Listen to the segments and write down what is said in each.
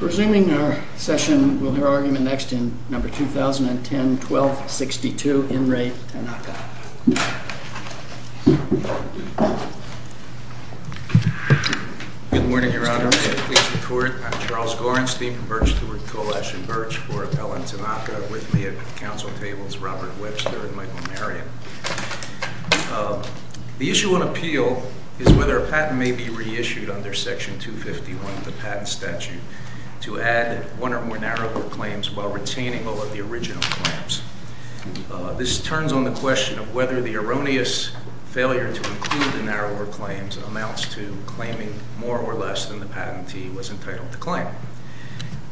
RESUMING OUR SESSION, WE'LL HEAR ARGUMENT NEXT IN NUMBER 2010-12-62. IN RE TANAKA. GOVERNOR GORENSTEIN. Good morning, Your Honor. I'm Charles Gorenstein from Birch, Stewart, Colash, and Birch for Appellant Tanaka. With me at the council table is Robert Webster and Michael Marion. The issue on appeal is whether a patent may be reissued under section 251 of the The issue on appeal is whether a patent may be reissued under section 251 of the Patent Statute to add one or more narrower claims while retaining all of the original claims. This turns on the question of whether the erroneous failure to include the narrower claims amounts to claiming more or less than the patentee was entitled to claim.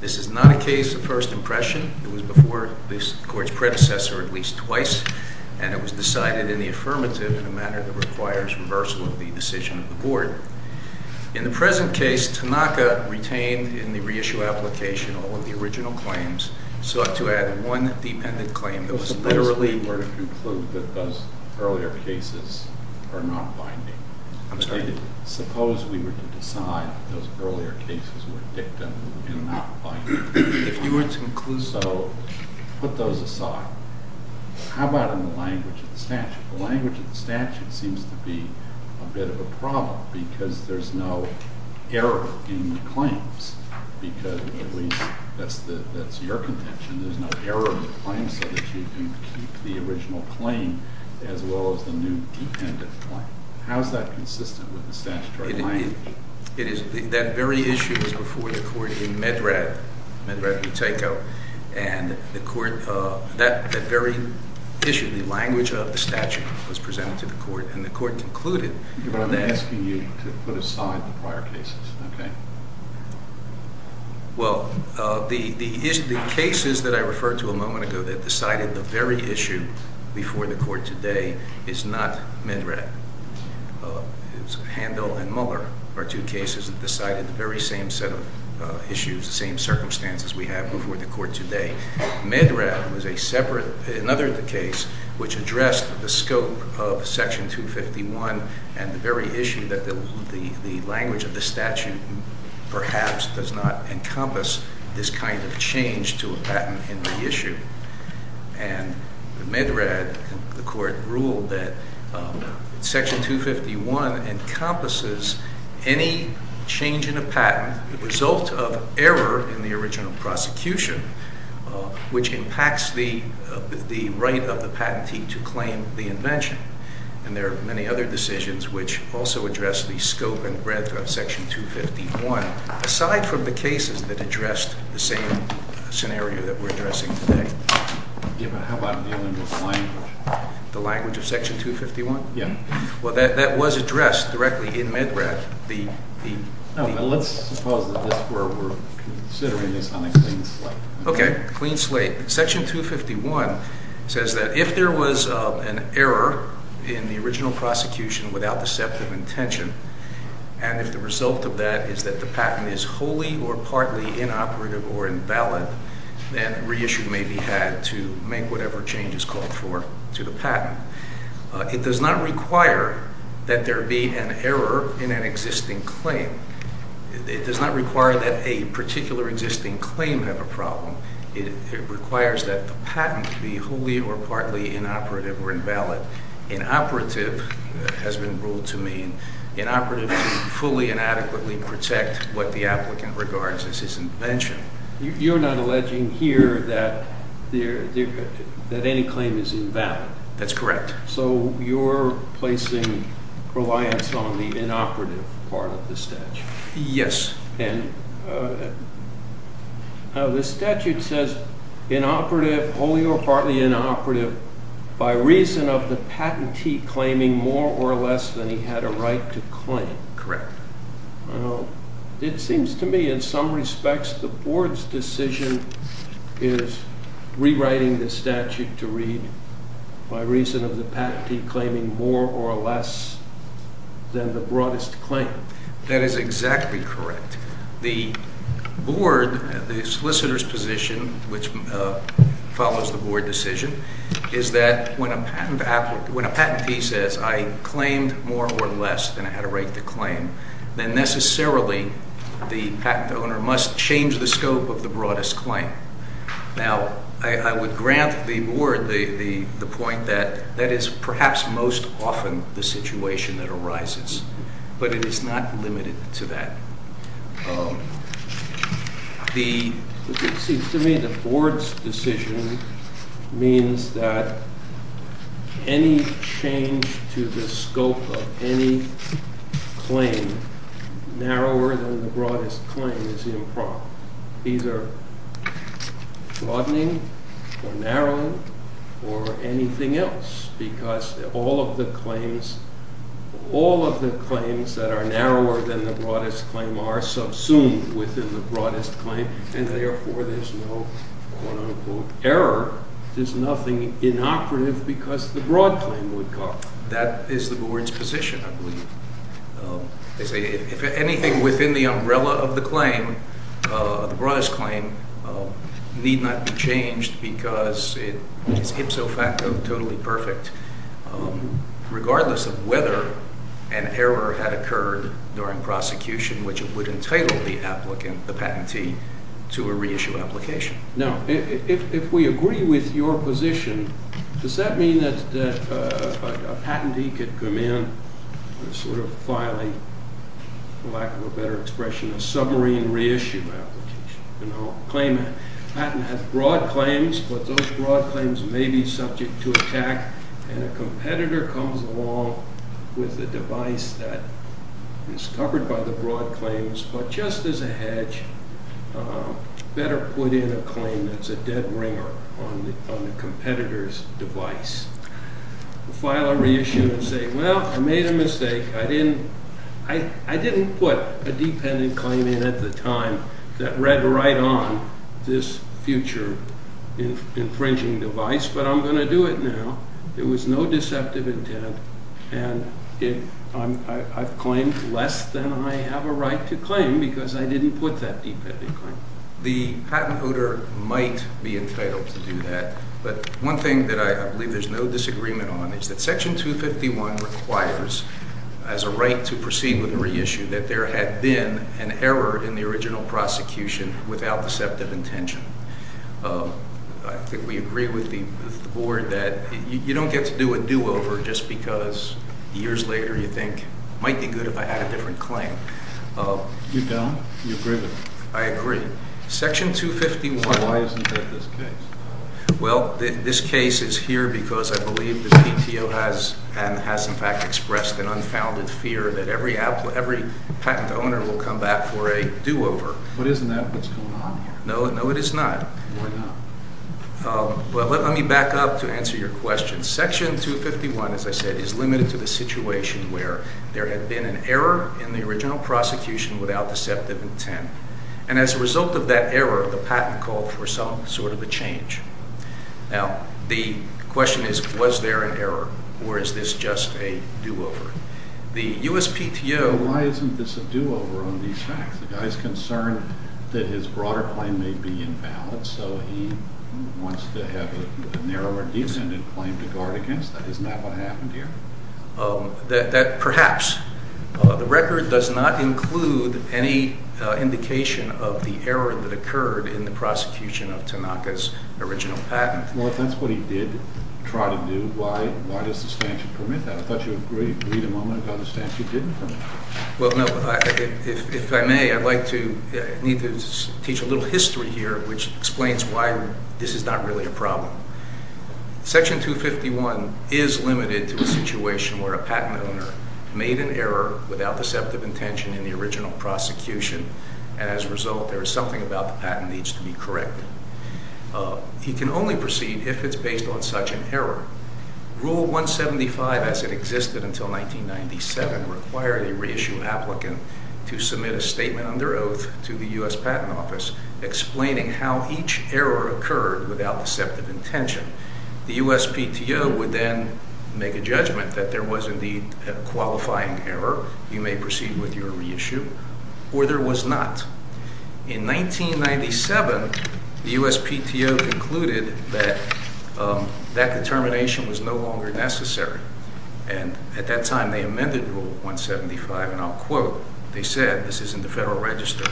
This is not a case of first impression. It was before this court's predecessor at least twice, and it was decided in the affirmative In the present case, Tanaka retained in the reissue application all of the original claims, sought to add one dependent claim that was literally... It is, that very issue was before the court in Medrad, Medrad, Utah, and the court... that very issue, the language of the statute was presented to the court, and the court concluded that Medrad was a separate... another case which addressed the scope of section 251, and the very issue that the language of the statute perhaps does not encompass this kind of change to a patent in the issue. And Medrad, the court ruled that section 251 encompasses any change in a patent, the result of error in the original prosecution, which impacts the right of the patentee to claim the invention. And there are many other decisions which also address the scope and breadth of section 251, aside from the cases that addressed the same scenario that we're addressing today. Yeah, but how about dealing with language? The language of section 251? Yeah. Well, that was addressed directly in Medrad. No, but let's suppose that this is where we're considering this on a clean slate. Okay, clean slate. Section 251 says that if there was an error in the original prosecution without deceptive intention, and if the result of that is that the patent is wholly or partly inoperative or invalid, then reissue may be had to make whatever change is called for to the patent. It does not require that there be an error in an existing claim. It does not require that a particular existing claim have a problem. It requires that the patent be wholly or partly inoperative or invalid. Inoperative has been ruled to mean inoperative to fully and adequately protect what the applicant regards as his invention. You're not alleging here that any claim is invalid? That's correct. So you're placing reliance on the inoperative part of the statute? Yes. And the statute says inoperative, wholly or partly inoperative, by reason of the patentee claiming more or less than he had a right to claim. Correct. Now, it seems to me in some respects the board's decision is rewriting the statute to read by reason of the patentee claiming more or less than the broadest claim. That is exactly correct. The board, the solicitor's position, which follows the board decision, is that when a patentee says, I claimed more or less than I had a right to claim, then necessarily the patent owner must change the scope of the broadest claim. Now, I would grant the board the point that that is perhaps most often the situation that arises, but it is not limited to that. The board's decision means that any change to the scope of any claim narrower than the broadest claim is improper. Either broadening or narrowing or anything else, because all of the claims, all of the claims that are narrower than the broadest claim are subsumed within the broadest claim, and therefore there's no, quote unquote, error. There's nothing inoperative because the broad claim would come. That is the board's position, I believe. They say if anything within the umbrella of the claim, the broadest claim, need not be changed because it is ipso facto totally perfect, regardless of whether an error had occurred during prosecution, which would entitle the applicant, the patentee, to a reissue application. Now, if we agree with your position, does that mean that a patentee could come in and sort of file a, for lack of a better expression, a submarine reissue application? A claimant has broad claims, but those broad claims may be subject to attack, and a competitor comes along with a device that is covered by the broad claims, but just as a hedge, better put in a claim that's a dead ringer on the competitor's device. File a reissue and say, well, I made a mistake. I didn't put a dependent claim in at the time that read right on this future infringing device, but I'm going to do it now. There was no deceptive intent, and I've claimed less than I have a right to claim because I didn't put that dependent claim. The patent holder might be entitled to do that, but one thing that I believe there's no disagreement on is that Section 251 requires, as a right to proceed with a reissue, that there had been an error in the original prosecution without deceptive intention. I think we agree with the board that you don't get to do a do-over just because years later you think, might be good if I had a different claim. You don't? You agree with me? I agree. Section 251. Why isn't that this case? Well, this case is here because I believe the PTO has in fact expressed an unfounded fear that every patent owner will come back for a do-over. But isn't that what's going on here? No, it is not. Why not? Well, let me back up to answer your question. Section 251, as I said, is limited to the situation where there had been an error in the original prosecution without deceptive intent, and as a result of that error, the patent called for some sort of a change. Now, the question is, was there an error, or is this just a do-over? The USPTO... Why isn't this a do-over on these facts? The guy's concerned that his broader claim may be invalid, so he wants to have a narrower defunded claim to guard against that. Isn't that what happened here? That perhaps the record does not include any indication of the error that occurred in the prosecution of Tanaka's original patent. Well, if that's what he did try to do, why does the statute permit that? I thought you agreed a moment ago the statute didn't permit that. Well, no, if I may, I need to teach a little history here which explains why this is not really a problem. Section 251 is limited to a situation where a patent owner made an error without deceptive intention in the original prosecution, and as a result, there is something about the patent needs to be corrected. He can only proceed if it's based on such an error. Rule 175, as it existed until 1997, required a reissued applicant to submit a statement under oath to the U.S. Patent Office explaining how each error occurred without deceptive intention. The USPTO would then make a judgment that there was indeed a qualifying error. You may proceed with your reissue, or there was not. In 1997, the USPTO concluded that that determination was no longer necessary, and at that time Rule 175, and I'll quote, they said, this is in the Federal Register,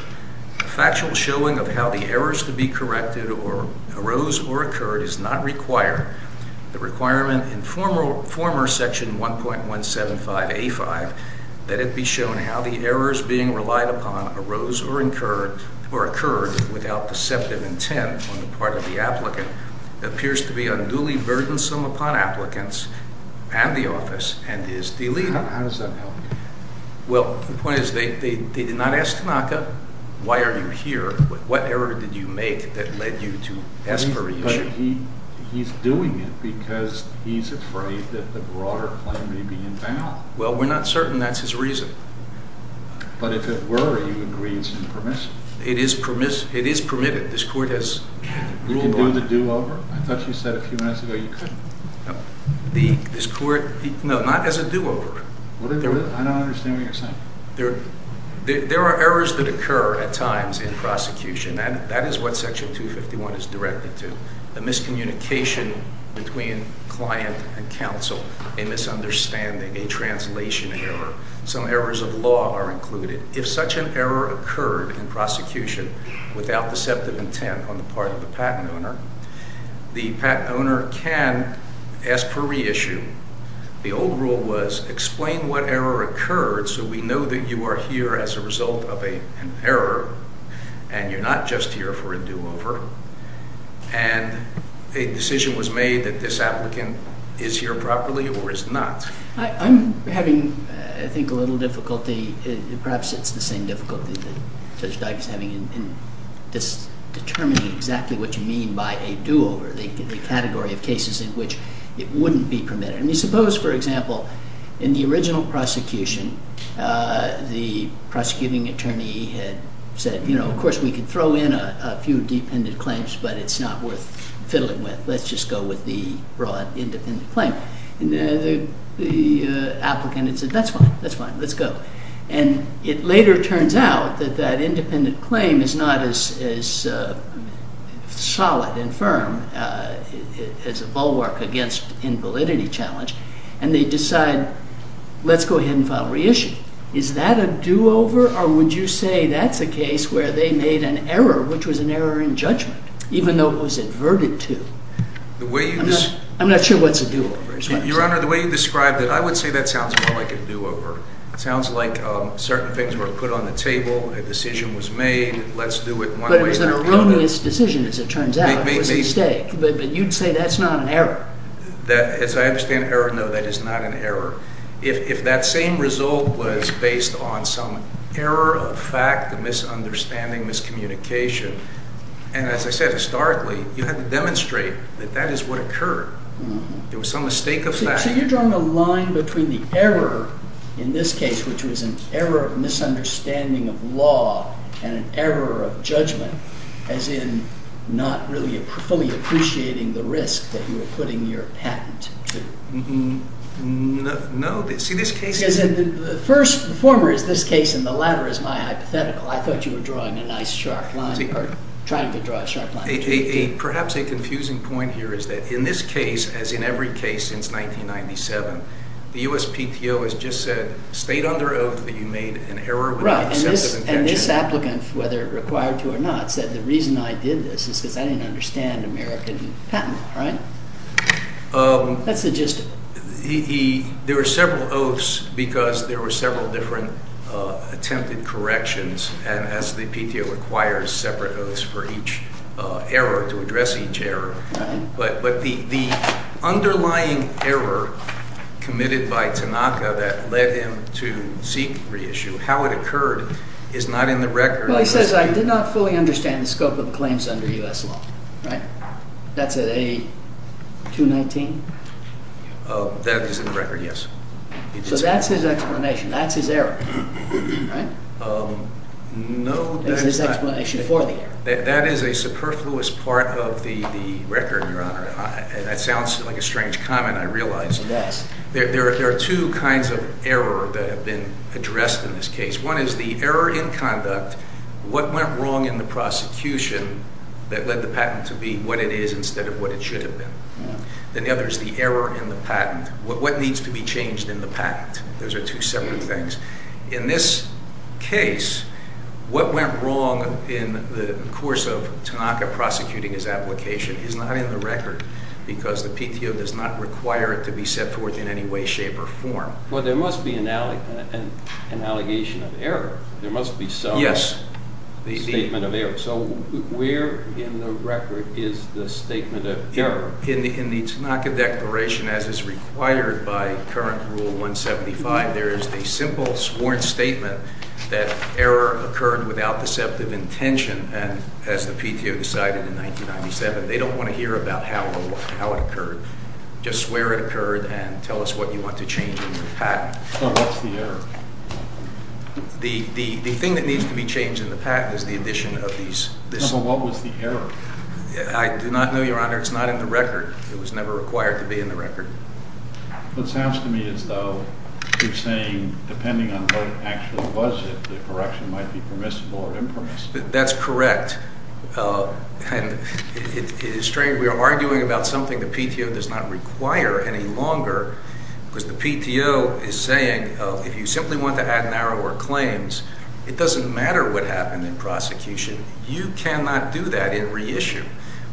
a factual showing of how the errors to be corrected arose or occurred is not required. The requirement in former Section 1.175A5 that it be shown how the errors being relied upon arose or occurred without deceptive intent on the part of the applicant appears to be not required. So, the question is, how does that help? Well, the point is, they did not ask Tanaka, why are you here? What error did you make that led you to ask for a reissue? But he's doing it because he's afraid that the broader claim may be invalid. Well, we're not certain that's his reason. But if it were, he would agree it's impermissible. It is permitted. This Court has ruled on it. You can do the do-over. I thought you said a few minutes ago you couldn't. The, this Court, no, not as a do-over. I don't understand what you're saying. There are errors that occur at times in prosecution. That is what Section 251 is directed to, a miscommunication between client and counsel, a misunderstanding, a translation error. Some errors of law are included. If such an error occurred in prosecution without deceptive intent on the part of the patent owner, the patent owner can ask for reissue. The old rule was explain what error occurred so we know that you are here as a result of a, an error and you're not just here for a do-over. And a decision was made that this applicant is here properly or is not. I, I'm having, I think, a little difficulty, perhaps it's the same difficulty that Judge McLean by a do-over, the, the category of cases in which it wouldn't be permitted. I mean, suppose, for example, in the original prosecution, the prosecuting attorney had said, you know, of course we could throw in a, a few dependent claims but it's not worth fiddling with. Let's just go with the broad independent claim. And the, the, the applicant had said, that's fine, that's fine, let's go. And it later turns out that that independent claim is not as, as solid and firm as a bulwark against invalidity challenge. And they decide, let's go ahead and file reissue. Is that a do-over or would you say that's a case where they made an error, which was an error in judgment, even though it was adverted to? The way you just. I'm not sure what's a do-over. Your Honor, the way you described it, I would say that sounds more like a do-over. It sounds like certain things were put on the table, a decision was made, let's do it one way or another. But it was an erroneous decision, as it turns out. It was a mistake. But you'd say that's not an error. That, as I understand error, no, that is not an error. If, if that same result was based on some error of fact, a misunderstanding, miscommunication, and as I said, historically, you had to demonstrate that that is what occurred. There was some mistake of fact. So you're drawing a line between the error in this case, which was an error of misunderstanding of law and an error of judgment, as in not really fully appreciating the risk that you were putting your patent to. No, see this case. Because in the first, the former is this case and the latter is my hypothetical. I thought you were drawing a nice sharp line, or trying to draw a sharp line. Perhaps a confusing point here is that in this case, as in every case since 1997, the U.S. PTO has just said, state under oath that you made an error. And this applicant, whether required to or not, said the reason I did this is because I didn't understand American patent law, right? That's the gist. There were several oaths because there were several different attempted corrections. And as the PTO requires separate oaths for each error, to address each error. But the underlying error committed by Tanaka that led him to seek reissue, how it occurred is not in the record. He says, I did not fully understand the scope of the claims under U.S. law, right? That's at A219? That is in the record, yes. So that's his explanation. That's his error, right? No, that's not. That's his explanation for the error. That is a superfluous part of the record, Your Honor. That sounds like a strange comment, I realize. It does. There are two kinds of error that have been addressed in this case. One is the error in conduct, what went wrong in the prosecution that led the patent to be what it is instead of what it should have been. Then the other is the error in the patent. What needs to be changed in the patent? Those are two separate things. In this case, what went wrong in the course of Tanaka prosecuting his application is not in the record because the PTO does not require it to be set forth in any way, shape, or form. Well, there must be an allegation of error. There must be some statement of error. So where in the record is the statement of error? In the Tanaka Declaration, as is required by current Rule 175, there is a simple sworn statement that error occurred without deceptive intention. And as the PTO decided in 1997, they don't want to hear about how it occurred. Just swear it occurred and tell us what you want to change in the patent. So what's the error? The thing that needs to be changed in the patent is the addition of these. So what was the error? I do not know, Your Honor. It's not in the record. It was never required to be in the record. It sounds to me as though you're saying depending on what actually was it, the correction might be permissible or impermissible. That's correct. And it is strange. We are arguing about something the PTO does not require any longer because the PTO is saying if you simply want to add narrower claims, it doesn't matter what happened in prosecution. You cannot do that in reissue.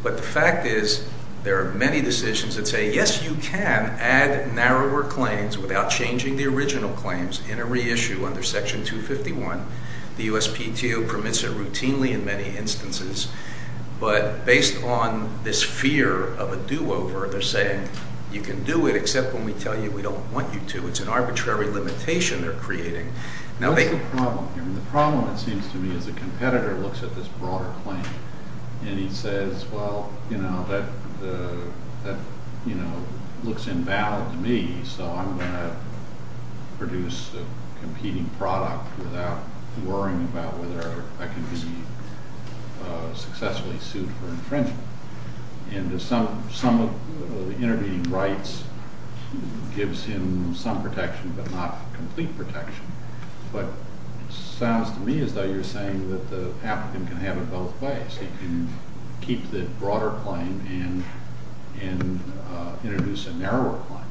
But the fact is, there are many decisions that say, yes, you can add narrower claims without changing the original claims in a reissue under Section 251. The USPTO permits it routinely in many instances. But based on this fear of a do-over, they're saying you can do it except when we tell you we don't want you to. It's an arbitrary limitation they're creating. That's the problem here. The problem, it seems to me, is the competitor looks at this broader claim. And he says, well, that looks invalid to me. So I'm going to produce a competing product without worrying about whether I can be successfully sued for infringement. And some of the intervening rights gives him some protection but not complete protection. But it sounds to me as though you're saying that the applicant can have it both ways. He can keep the broader claim and introduce a narrower claim.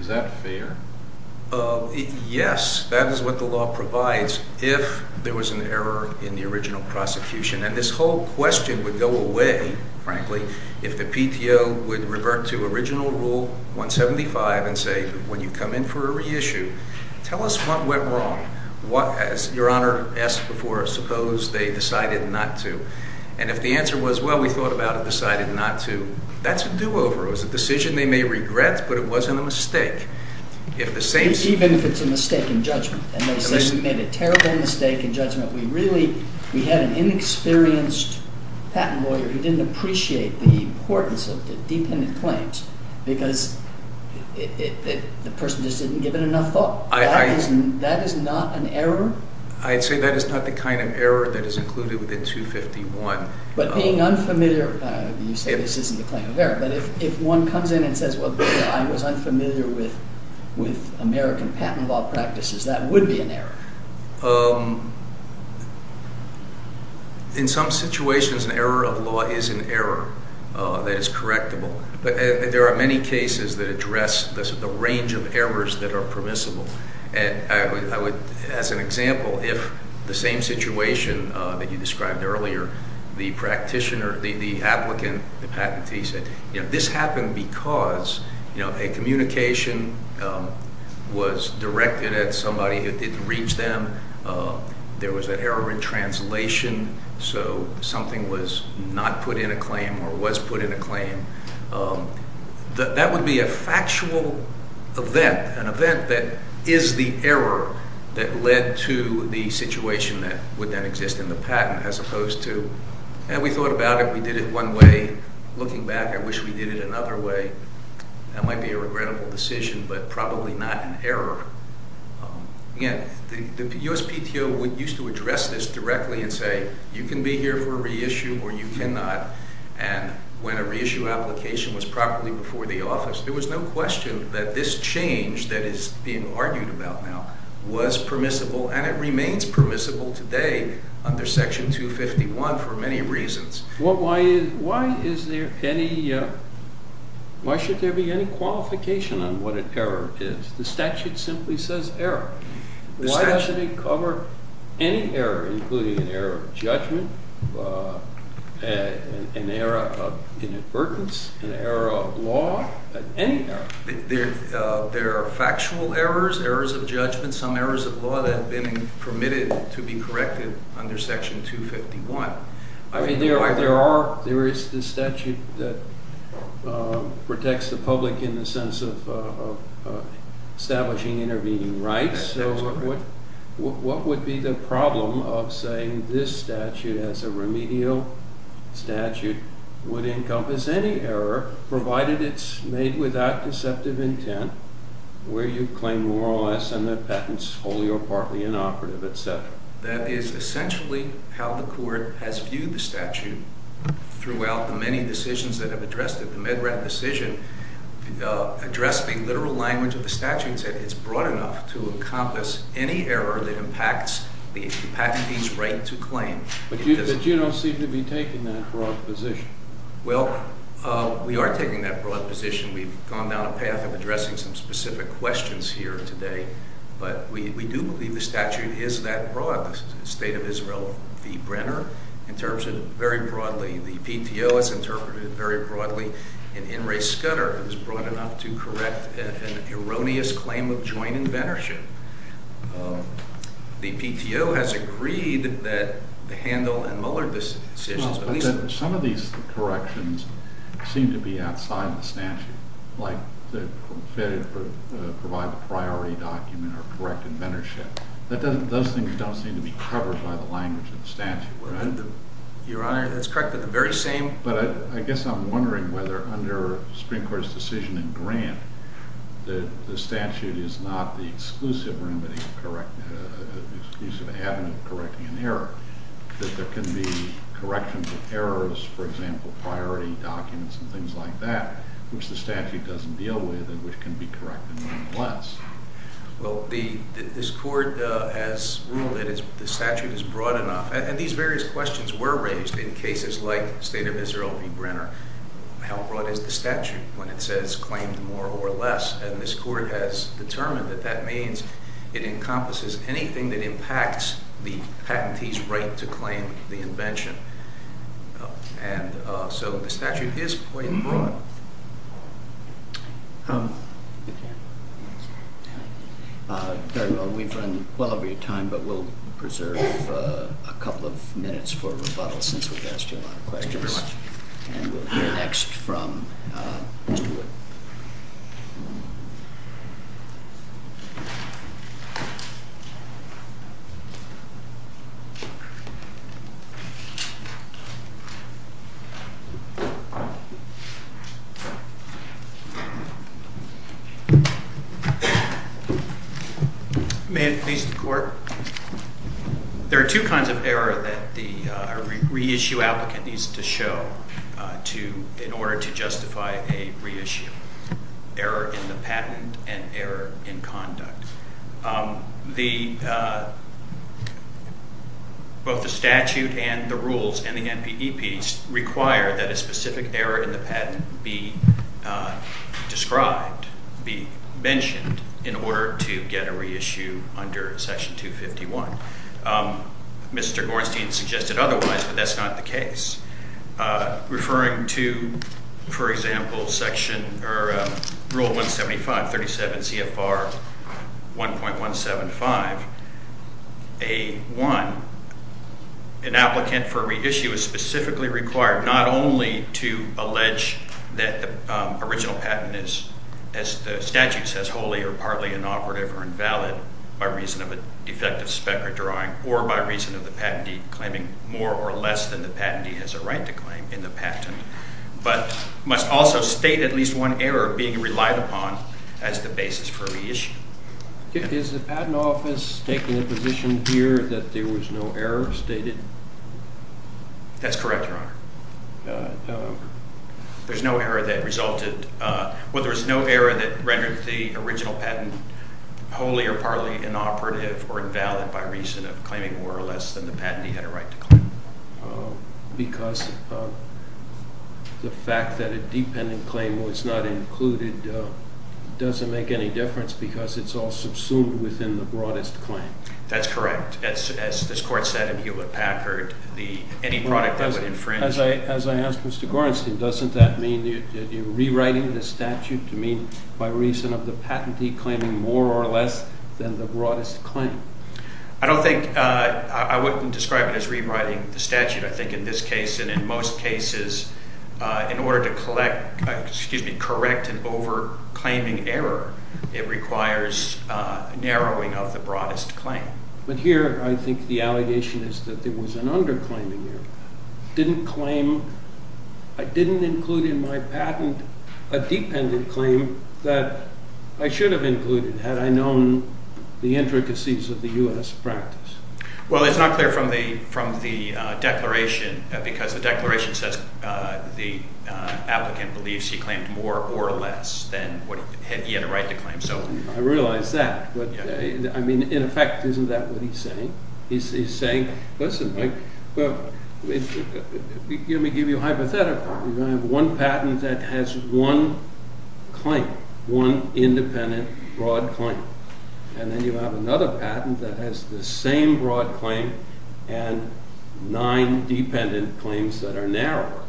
Is that fair? Yes, that is what the law provides if there was an error in the original prosecution. And this whole question would go away, frankly, if the PTO would revert to original Rule 175 and say, when you come in for a reissue, tell us what went wrong. As Your Honor asked before, suppose they decided not to. And if the answer was, well, we thought about it, decided not to, that's a do-over. It was a decision they may regret. But it wasn't a mistake. Even if it's a mistake in judgment. And they say we made a terrible mistake in judgment. We really, we had an inexperienced patent lawyer who didn't appreciate the importance of the dependent claims because the person just didn't give it enough thought. That is not an error? I'd say that is not the kind of error that is included within 251. But being unfamiliar, you say this isn't a claim of error. But if one comes in and says, well, I was unfamiliar with American patent law practices, that would be an error. In some situations, an error of law is an error that is correctable. But there are many cases that address the range of errors that are permissible. And I would, as an example, if the same situation that you described earlier, the practitioner, the applicant, the patentee said, you know, this happened because, you know, a communication was directed at somebody who didn't reach them. There was an error in translation. So something was not put in a claim or was put in a claim. That would be a factual event, an event that is the error that led to the situation that would then exist in the patent as opposed to, yeah, we thought about it. We did it one way. Looking back, I wish we did it another way. That might be a regrettable decision, but probably not an error. Again, the USPTO used to address this directly and say, you can be here for a reissue or you cannot. And when a reissue application was properly before the office, there was no question that this change that is being argued about now was permissible, and it remains permissible today under Section 251 for many reasons. Why is there any, why should there be any qualification on what an error is? The statute simply says error. Why doesn't it cover any error, including an error of judgment, an error of inadvertence, an error of law, any error? There are factual errors, errors of judgment, some errors of law that have been permitted to be corrected under Section 251. I mean, there is the statute that protects the public in the sense of establishing intervening rights. So what would be the problem of saying this statute as a remedial statute would encompass any error, provided it's made without deceptive intent, where you claim more or less under that is essentially how the court has viewed the statute throughout the many decisions that have addressed it. The Med Rat decision addressed the literal language of the statute and said it's broad enough to encompass any error that impacts the patentee's right to claim. But you don't seem to be taking that broad position. Well, we are taking that broad position. We've gone down a path of addressing some specific questions here today, but we do believe the statute is that broad. This is the State of Israel v. Brenner in terms of very broadly, the PTO has interpreted it very broadly, and In re Scudder is broad enough to correct an erroneous claim of joint inventorship. The PTO has agreed that the Handel and Muller decisions, at least— Some of these corrections seem to be outside the statute, like to provide the priority document or correct inventorship. Those things don't seem to be covered by the language of the statute. Your Honor, that's correct in the very same— But I guess I'm wondering whether under Supreme Court's decision in Grant, the statute is not the exclusive remedy, exclusive avenue of correcting an error, that there can be corrections of errors, for example, priority documents and things like that, which the statute doesn't deal with and which can be corrected nonetheless. Well, this Court has ruled that the statute is broad enough, and these various questions were raised in cases like State of Israel v. Brenner. How broad is the statute when it says claimed more or less? And this Court has determined that that means it encompasses anything that impacts the patentee's right to claim the invention. And so the statute is quite broad. Very well. We've run well over your time, but we'll preserve a couple of minutes for rebuttal since we've asked you a lot of questions. Thank you very much. And we'll hear next from Stewart. May it please the Court? There are two kinds of error that a reissue applicant needs to show in order to justify a reissue, error in the patent and error in conduct. Both the statute and the rules and the NPEPs require that a specific error in the patent be described, be mentioned in order to get a reissue under Section 251. Mr. Gornstein suggested otherwise, but that's not the case. Referring to, for example, Rule 175, 37 CFR 1.175A1, an applicant for reissue is specifically required not only to allege that the original patent is, as the statute says, wholly or partly inoperative or invalid by reason of a defective spec or drawing, or by reason of the patentee claiming more or less than the patentee has a right to claim in the patent, but must also state at least one error being relied upon as the basis for reissue. Is the Patent Office taking the position here that there was no error stated? That's correct, Your Honor. There's no error that resulted, well, there was no error that rendered the original patent wholly or partly inoperative or invalid by reason of claiming more or less than the patentee had a right to claim. Because the fact that a dependent claim was not included doesn't make any difference because it's all subsumed within the broadest claim. That's correct. As this Court said in Hewlett-Packard, any product that would infringe... As I asked Mr. Gorenstein, doesn't that mean you're rewriting the statute to mean by reason of the patentee claiming more or less than the broadest claim? I don't think, I wouldn't describe it as rewriting the statute. I think in this case and in most cases, in order to collect, excuse me, correct an over But here I think the allegation is that there was an underclaiming error. Didn't claim, I didn't include in my patent a dependent claim that I should have included had I known the intricacies of the U.S. practice. Well, it's not clear from the declaration because the declaration says the applicant believes he claimed more or less than what he had a right to claim. I realize that, but I mean, in effect, isn't that what he's saying? He's saying, listen, let me give you a hypothetical. You have one patent that has one claim, one independent broad claim, and then you have another patent that has the same broad claim and nine dependent claims that are narrower.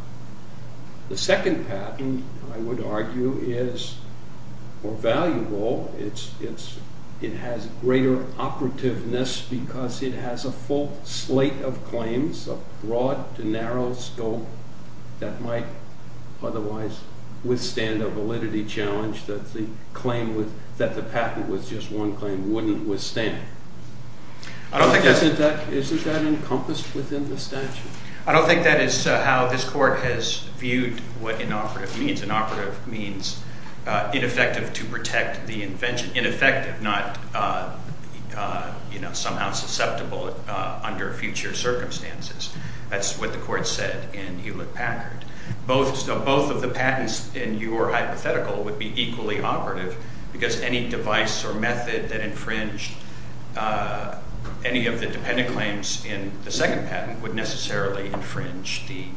The second patent, I would argue, is more valuable. It has greater operativeness because it has a full slate of claims, a broad to narrow scope that might otherwise withstand a validity challenge that the patent with just one claim wouldn't withstand. Isn't that encompassed within the statute? I don't think that is how this court has viewed what inoperative means. Inoperative means ineffective to protect the invention. Ineffective, not somehow susceptible under future circumstances. That's what the court said in Hewlett Packard. Both of the patents in your hypothetical would be equally operative because any device or the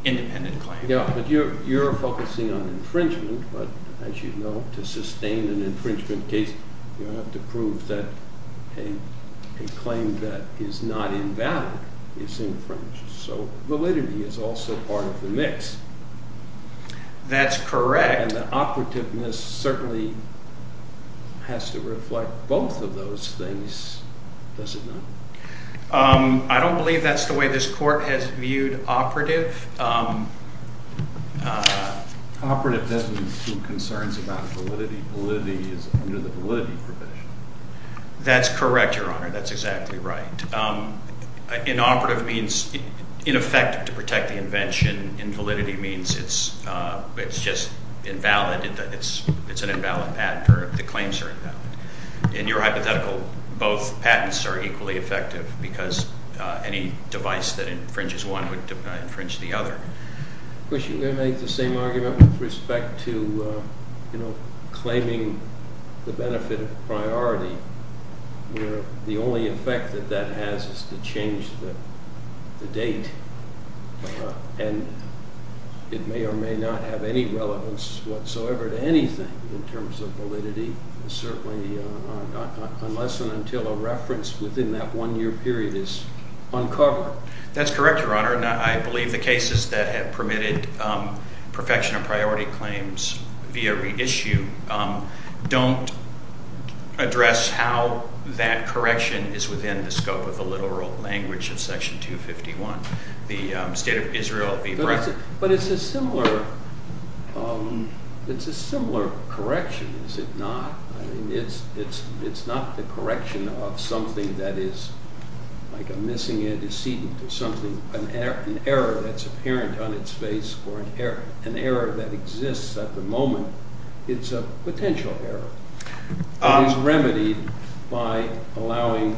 independent claim. Yeah, but you're focusing on infringement, but as you know, to sustain an infringement case, you have to prove that a claim that is not invalid is infringed. So validity is also part of the mix. That's correct. And the operativeness certainly has to reflect both of those things, does it not? I don't believe that's the way this court has viewed operative. Operative doesn't include concerns about validity. Validity is under the validity provision. That's correct, Your Honor. That's exactly right. Inoperative means ineffective to protect the invention. Invalidity means it's just invalid. It's an invalid patent or the claims are invalid. In your hypothetical, both patents are equally effective because any device that infringes one would infringe the other. Of course, you're going to make the same argument with respect to claiming the benefit of priority where the only effect that that has is to change the date. And it may or may not have any relevance whatsoever to anything in terms of validity. Certainly, unless and until a reference within that one-year period is uncovered. That's correct, Your Honor. I believe the cases that have permitted perfection of priority claims via reissue don't address how that correction is within the scope of the literal language of Section 251, the State of Israel v. Britain. But it's a similar, it's a similar correction, is it not? I mean, it's not the correction of something that is like a missing antecedent or something, an error that's apparent on its face or an error that exists at the moment. It's a potential error. It is remedied by allowing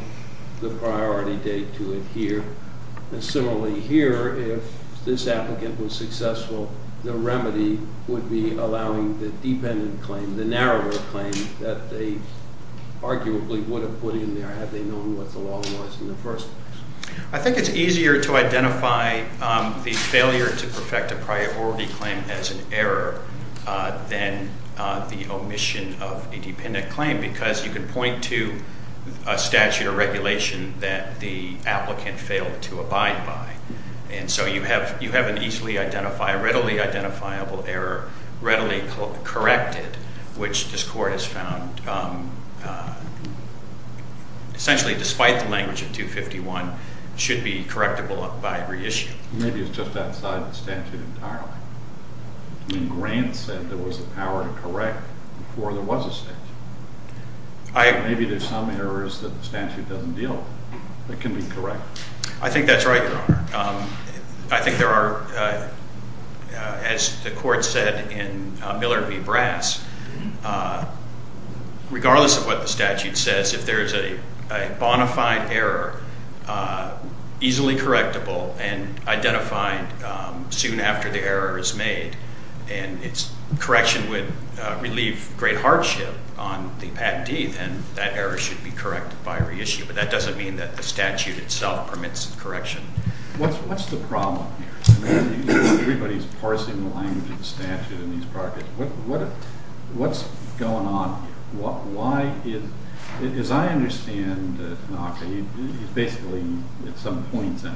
the priority date to adhere. And similarly here, if this applicant was successful, the remedy would be allowing the dependent claim, the narrower claim, that they arguably would have put in there had they known what the law was in the first place. I think it's easier to identify the failure to perfect a priority claim as an error than the omission of a dependent claim. Because you can point to a statute or regulation that the applicant failed to abide by. And so you have an easily identifiable, readily identifiable error, readily corrected, which this Court has found, essentially despite the language of 251, should be correctable by reissue. Maybe it's just outside the statute entirely. I mean, Grant said there was a power to correct before there was a statute. Maybe there's some errors that the statute doesn't deal with that can be corrected. I think that's right, Your Honor. I think there are, as the Court said in Miller v. Brass, regardless of what the statute says, if there's a bona fide error, easily correctable and identified soon after the error is made, and its correction would relieve great hardship on the patentee, then that error should be corrected by reissue. But that doesn't mean that the statute itself permits correction. What's the problem here? Everybody's parsing the language of the statute in these projects. What's going on here? Why is, as I understand Tanaka, he's basically, at some point in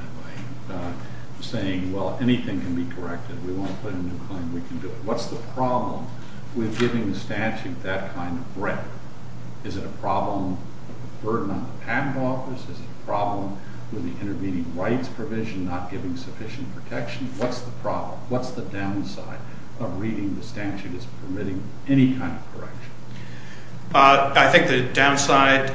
time, saying, well, anything can be corrected. We won't put in a new claim. We can do it. What's the problem with giving the statute that kind of breadth? Is it a problem of a burden on the patent office? Is it a problem with the intervening rights provision not giving sufficient protection? What's the problem? What's the downside of reading the statute as permitting any kind of correction? I think the downside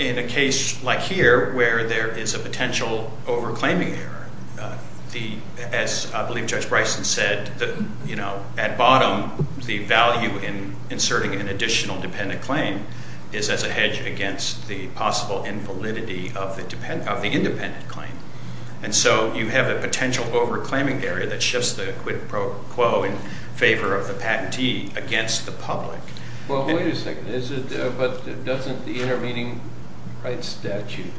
in a case like here, where there is a potential over-claiming error, as I believe Judge Bryson said, at bottom, the value in inserting an additional dependent claim is as a hedge against the possible invalidity of the independent claim. And so you have a potential over-claiming error that shifts the quid pro quo in favor of the patentee against the public. Well, wait a second. But doesn't the intervening rights statute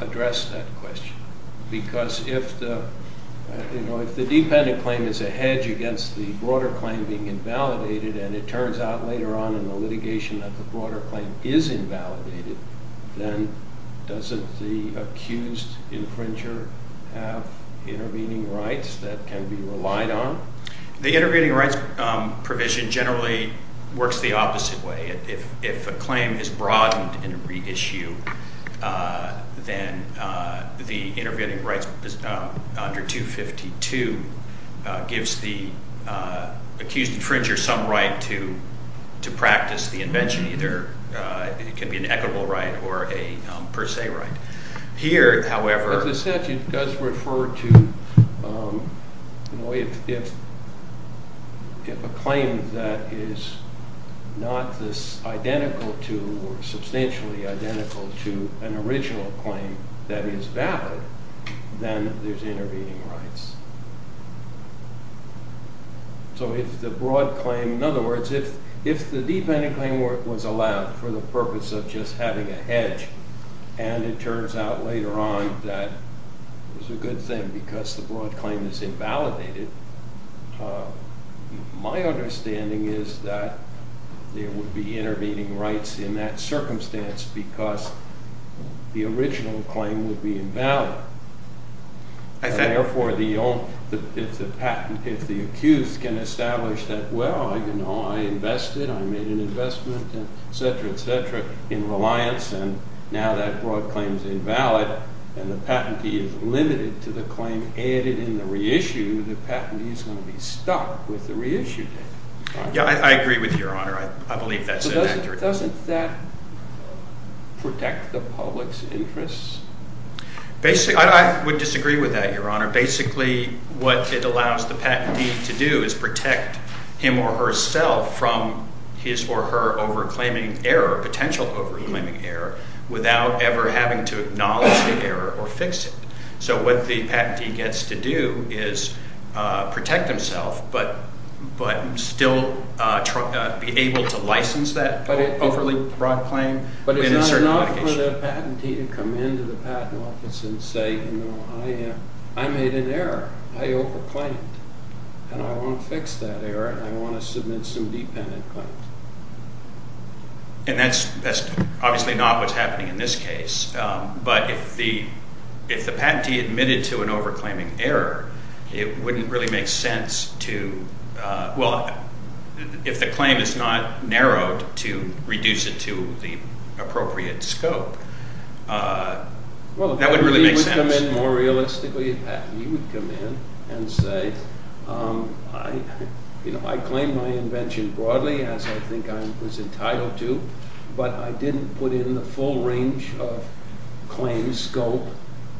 address that question? Because if the dependent claim is a hedge against the broader claim being invalidated, and it turns out later on in the litigation that the broader claim is invalidated, then doesn't the accused infringer have intervening rights that can be relied on? The intervening rights provision generally works the opposite way. If a claim is broadened in a reissue, then the intervening rights under 252 gives the accused infringer some right to practice the invention. Either it can be an equitable right or a per se right. Here, however... The statute does refer to, you know, if a claim that is not this identical to, or substantially identical to, an original claim that is valid, then there's intervening rights. So if the broad claim, in other words, if the dependent claim was allowed for the purpose of just having a hedge, and it turns out later on that it was a good thing because the broad claim is invalidated, my understanding is that there would be intervening rights in that circumstance because the original claim would be invalid. Therefore, if the patent, if the accused can establish that, well, you know, I invested, I made an investment, et cetera, et cetera, in reliance, and now that broad claim is invalid, and the patentee is limited to the claim added in the reissue, the patentee is going to be stuck with the reissue date. Yeah, I agree with Your Honor. I believe that's an accurate... Doesn't that protect the public's interests? Basically, I would disagree with that, Your Honor. Basically, what it allows the patentee to do is protect him or herself from his or her over-claiming error, potential over-claiming error, without ever having to acknowledge the error or fix it. So what the patentee gets to do is protect himself, but still be able to license that overly broad claim within a certain modification. I want the patentee to come into the patent office and say, you know, I made an error, I over-claimed, and I want to fix that error, and I want to submit some dependent claims. And that's obviously not what's happening in this case, but if the patentee admitted to an over-claiming error, it wouldn't really make sense to, well, if the claim is not narrowed to reduce it to the appropriate scope, that wouldn't really make sense. More realistically, a patentee would come in and say, you know, I claim my invention broadly as I think I was entitled to, but I didn't put in the full range of claims scope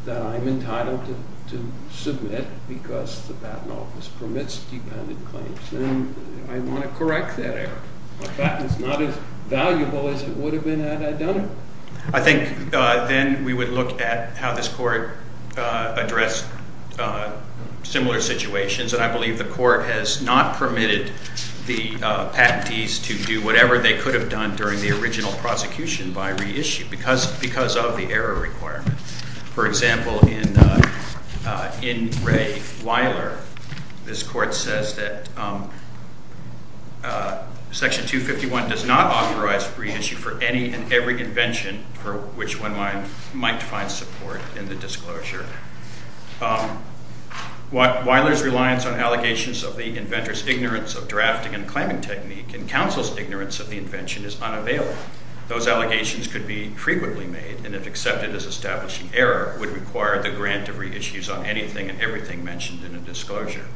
that I'm entitled to submit because the patent office permits dependent claims, and I want to correct that error. A patent is not as valuable as it would have been had I done it. I think then we would look at how this Court addressed similar situations, and I believe the Court has not permitted the patentees to do whatever they could have done during the original prosecution by reissue because of the error requirement. For example, in Ray Weiler, this Court says that Section 251 does not authorize reissue for any and every invention for which one might find support in the disclosure. Weiler's reliance on allegations of the inventor's ignorance of drafting and claiming technique and counsel's ignorance of the invention is unavailable. Those allegations could be frequently made, and if accepted as mentioned in a disclosure.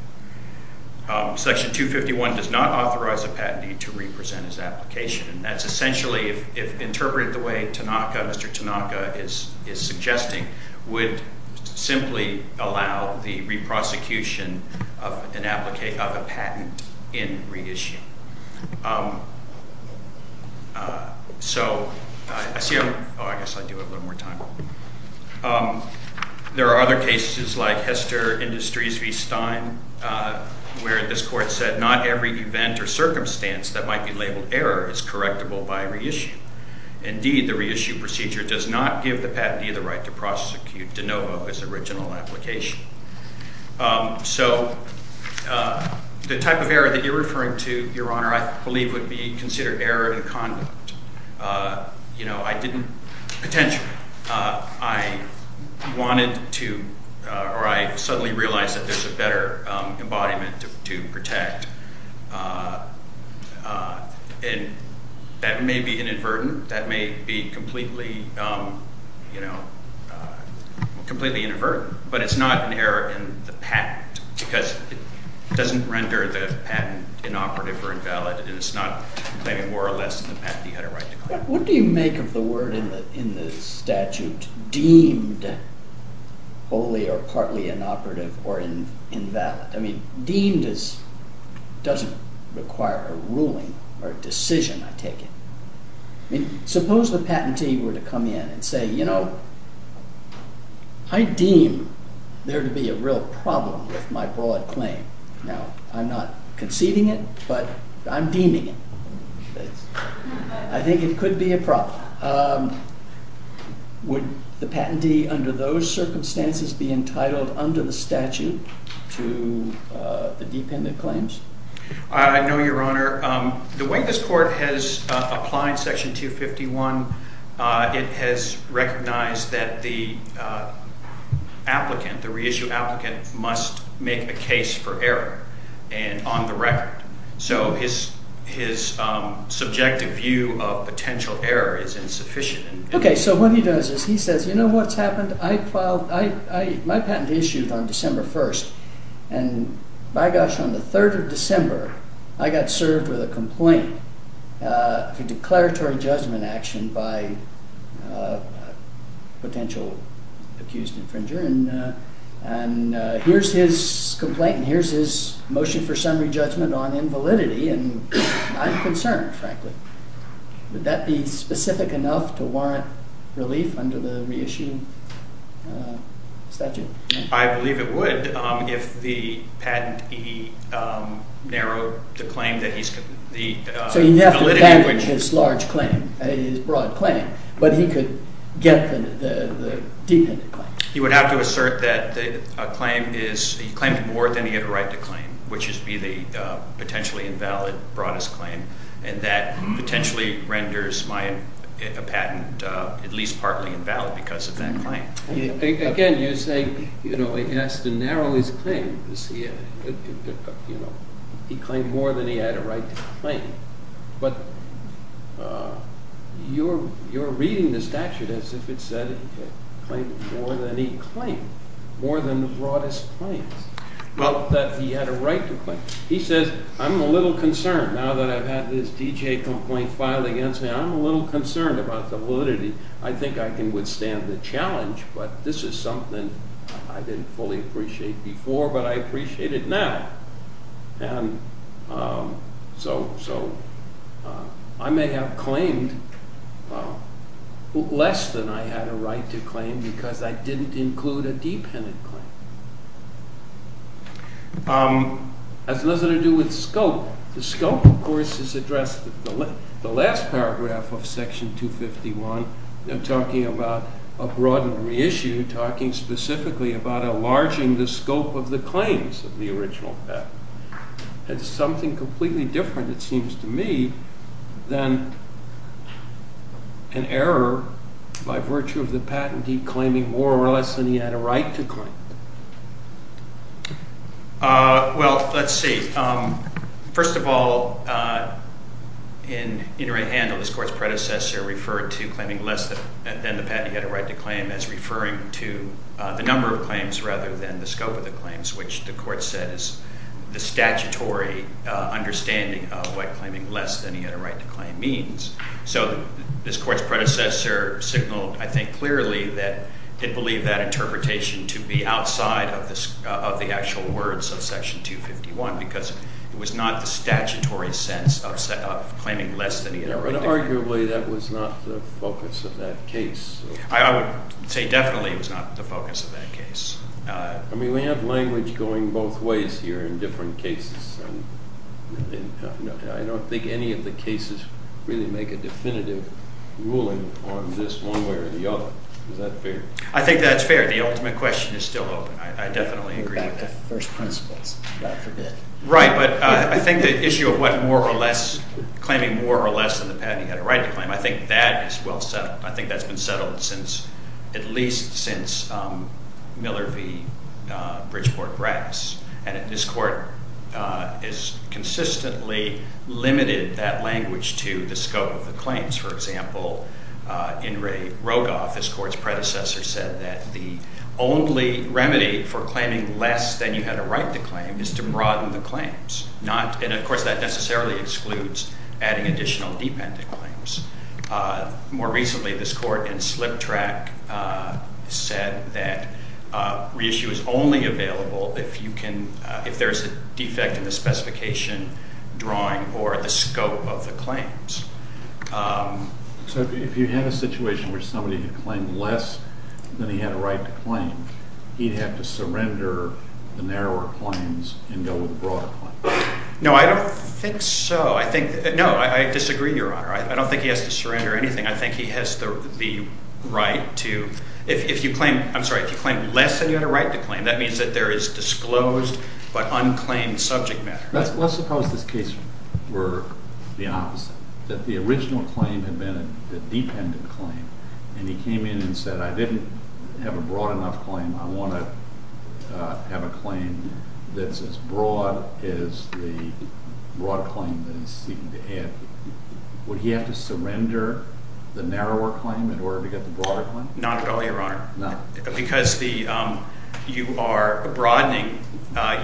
Section 251 does not authorize a patentee to re-present his application, and that's essentially, if interpreted the way Tanaka, Mr. Tanaka is suggesting, would simply allow the re-prosecution of an applicant, of a patent in reissue. So I see, oh I guess I do have a little more time. There are other cases like Hester Industries v. Stein, where this Court said not every event or circumstance that might be labeled error is correctable by reissue. Indeed, the reissue procedure does not give the patentee the right to prosecute de novo his original application. So the type of error that you're honor, I believe, would be considered error in conduct. You know, I didn't, potentially, I wanted to, or I suddenly realized that there's a better embodiment to protect, and that may be inadvertent, that may be completely, you know, completely inadvertent, but it's not an error in the patent, because it doesn't render the patent inoperative or invalid, and it's not claiming more or less than the patentee had a right to claim. What do you make of the word in the statute, deemed wholly or partly inoperative or invalid? I mean, deemed doesn't require a ruling or a decision, I take it. I mean, suppose the there to be a real problem with my broad claim. Now, I'm not conceding it, but I'm deeming it. I think it could be a problem. Would the patentee, under those circumstances, be entitled under the statute to the dependent claims? I know, your honor, the way this Court has applied Section 251, it has recognized that the applicant, the reissued applicant, must make a case for error, and on the record. So, his subjective view of potential error is insufficient. Okay, so what he does is, he says, you know what's happened? I filed, my patent issued on December 1st, and by gosh, on the 3rd of December, I got served with a complaint for declaratory judgment action by a potential accused infringer, and here's his complaint, and here's his motion for summary judgment on invalidity, and I'm concerned, frankly. Would that be specific enough to warrant relief under the reissued statute? I believe it would, if the patentee narrowed the claim that he's... So, you have to banish his large claim, his broad claim, but he could get the dependent claim. He would have to assert that the claim is, he claimed more than he had a right to claim, which is to be the potentially invalid broadest claim, and that potentially renders my patent at least partly invalid because of that claim. Again, you say, you know, he has to narrow his claim, because he, you know, he claimed more than he had a right to claim, but you're reading the statute as if it said he claimed more than he claimed, more than the broadest claims, but that he had a right to claim. He says, I'm a little concerned now that I've had this D.J. complaint filed against me. I'm a little concerned about the validity. I think I can withstand the challenge, but this is something I didn't fully appreciate before, but I appreciate it now, and so I may have claimed less than I had a right to claim, because I didn't include a dependent claim. As it has to do with scope, the scope, of course, is addressed in the last paragraph of section 251, talking about a broad reissue, talking specifically about enlarging the scope of the claims of the original patent. It's something completely different, it seems to me, than an error by virtue of the patentee claiming more or less than he had a right to claim. Well, let's see. First of all, in In Right Handle, this court's predecessor referred to claiming less than the patent he had a right to claim as referring to the number of claims, rather than the scope of the claims, which the court said is the statutory understanding of what claiming less than he had a right to claim means. So this court's predecessor signaled, I think, clearly that it believed that interpretation to be outside of the actual words of section 251, because it was not the statutory sense of claiming less than he had a right. Arguably, that was not the focus of that case. I would say definitely it was not the focus of that case. I mean, we have language going both ways here in different cases, and I don't think any of the cases really make a definitive ruling on this one way or the other. Is that fair? I think that's fair. The ultimate question is still open. I definitely agree with that. First principles, God forbid. Right, but I think the issue of what more or less, claiming more or less than the patent he had a right to claim, I think that is well settled. I think that's been settled since, at least since Miller v. Bridgeport-Rax. And this court has consistently limited that language to the scope of the claims. For example, In re Rogoff, this court's predecessor said that the only remedy for claiming less than you had a right to claim is to broaden the claims. And of course, that necessarily excludes adding additional dependent claims. More recently, this court in Slip Track said that reissue is only available if you can, if there's a defect in the specification drawing or the scope of the claims. So if you had a situation where somebody had claimed less than he had a right to claim, he'd have to surrender the narrower claims and go with the broader claims? No, I don't think so. I think, no, I disagree, Your Honor. I don't think he has to surrender anything. I think he has the right to, if you claim, I'm sorry, if you claim less than you had a right to claim, that means that there is disclosed but unclaimed subject matter. Let's suppose this case were the opposite, that the original claim had been a dependent claim, and he came in and said, I didn't have a broad enough claim. I want to have a claim that's as the broad claim that he's seeking to add. Would he have to surrender the narrower claim in order to get the broader claim? Not at all, Your Honor. Because the, you are broadening,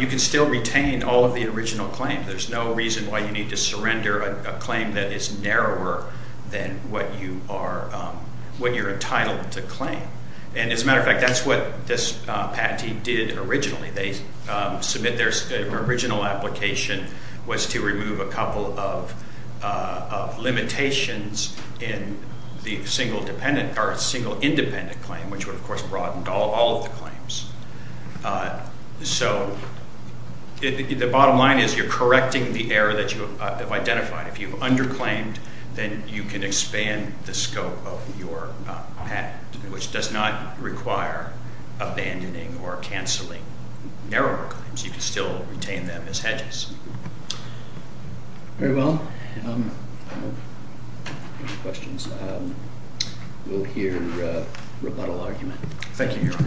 you can still retain all of the original claims. There's no reason why you need to surrender a claim that is narrower than what you are, what you're entitled to claim. And as a matter of fact, that's what this patentee did originally. They submit their original application was to remove a couple of limitations in the single dependent or single independent claim, which would of course broaden all of the claims. So the bottom line is you're correcting the error that you have identified. If you've underclaimed, then you can expand the scope of your patent, which does not require abandoning or canceling narrower claims. You can still retain them as hedges. Very well. Any questions? We'll hear a rebuttal argument. Thank you, Your Honor.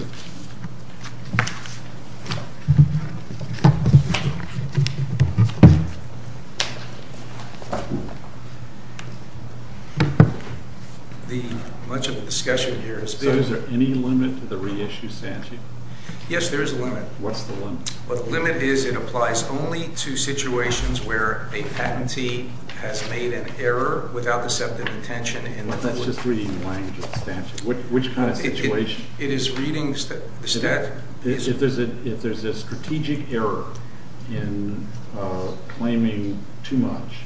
So is there any limit to the reissue statute? Yes, there is a limit. What's the limit? The limit is it applies only to situations where a patentee has made an error without deceptive intention. That's just reading the language of the statute. Which kind of situation? It is reading the statute. If there's a strategic error in claiming too much,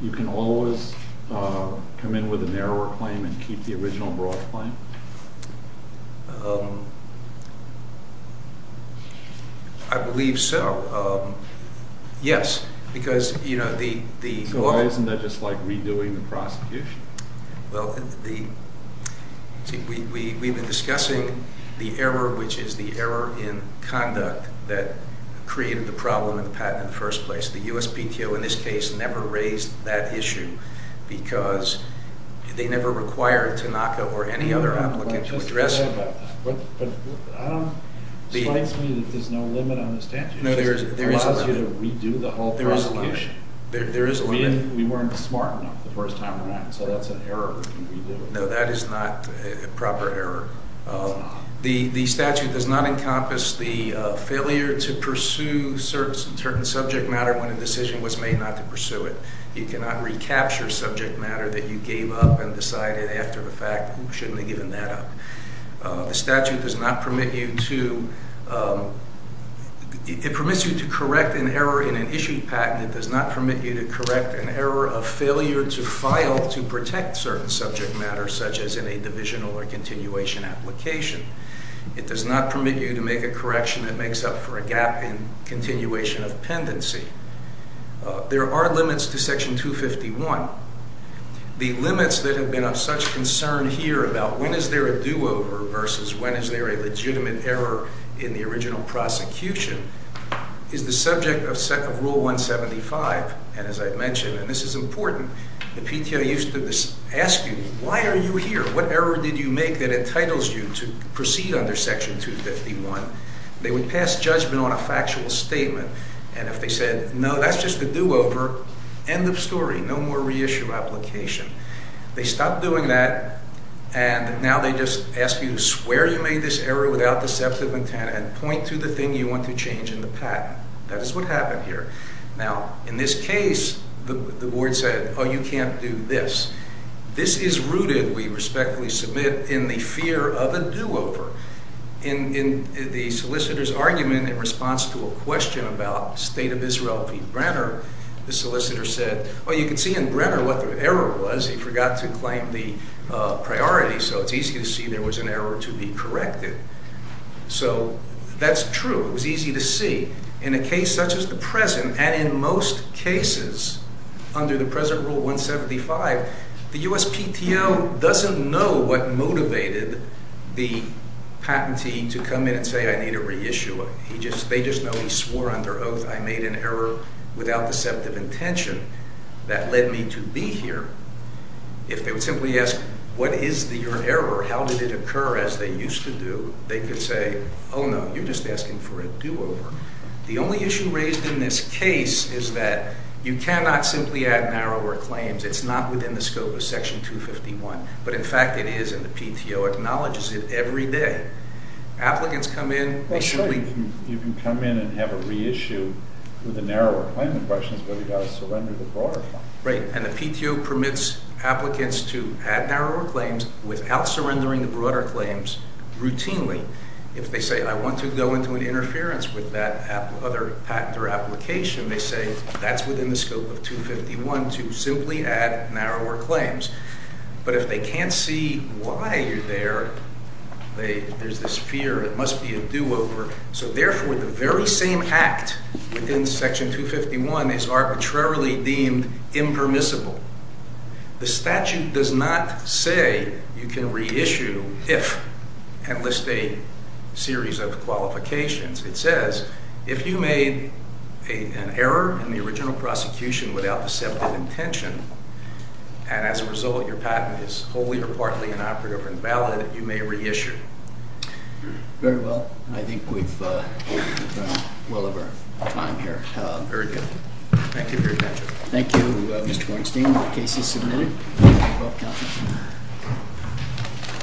you can always come in with a narrower claim and keep the original broad claim? I believe so. Yes. So why isn't that just like redoing the prosecution? Well, we've been discussing the error, which is the error in conduct that created the problem in the patent in the first place. The USPTO in this case never raised that issue because they never required Tanaka or any other applicant to address it. But it strikes me that there's no limit on the statute. It allows you to redo the whole prosecution. There is a limit. We weren't smart enough the first time around, so that's an error we can redo. No, that is not a proper error. The statute does not encompass the failure to pursue certain subject matter when a decision was made not to pursue it. You cannot recapture subject matter that you gave up and decided after the fact, shouldn't have given that up. The statute does not permit you to correct an error in an issued patent. It does not permit you to correct an error of failure to file to protect certain subject matter, such as in a divisional or continuation application. It does not permit you to make a correction that makes up for a gap in continuation of pendency. There are limits to Section 251. The limits that have been of such concern here about when is there a do-over versus when is there a legitimate error in the original prosecution is the subject of Rule 175, and as I've mentioned, and this is important, the PTO used to ask you, why are you here? What error did you make that entitles you to proceed under Section 251? They would pass judgment on a factual statement, and if they said, no, that's just a do-over, end of story, no more reissue application. They stopped doing that, and now they just ask you to swear you made this error without deceptive intent and point to the thing you want to change in the patent. That is what happened here. Now, in this case, the board said, oh, you can't do this. This is rooted, we respectfully submit, in the fear of a do-over. In the solicitor's argument in response to a question about State of Israel v. Brenner, the solicitor said, well, you can see in Brenner what the error was. He forgot to claim the priority, so it's easy to see there was an error to be corrected. So that's true. It was easy to see in a case such as the present, and in most cases under the present Rule 175, the USPTO doesn't know what motivated the patentee to come in and say, I need to reissue it. They just know he swore under oath I made an error without deceptive intention that led me to be here. If they would simply ask, what is your error? How did it occur as they used to do? They could say, oh, no, you're asking for a do-over. The only issue raised in this case is that you cannot simply add narrower claims. It's not within the scope of Section 251. But in fact, it is, and the PTO acknowledges it every day. Applicants come in. You can come in and have a reissue with a narrower claim. The question is whether you've got to surrender the broader claim. Right. And the PTO permits applicants to add narrower claims without surrendering the broader claims routinely. If they say, I want to go into an interference with that other patent or application, they say that's within the scope of 251 to simply add narrower claims. But if they can't see why you're there, there's this fear it must be a do-over. So therefore, the very same act within Section 251 is arbitrarily deemed impermissible. The statute does not say you can reissue if and list a series of qualifications. It says if you made an error in the original prosecution without deceptive intention, and as a result, your patent is wholly or partly inoperative or invalid, you may reissue. Very well. I think we've done well over time here. Very good. Thank you for your attention. Thank you, Mr. Weinstein. The case is submitted. Thank you.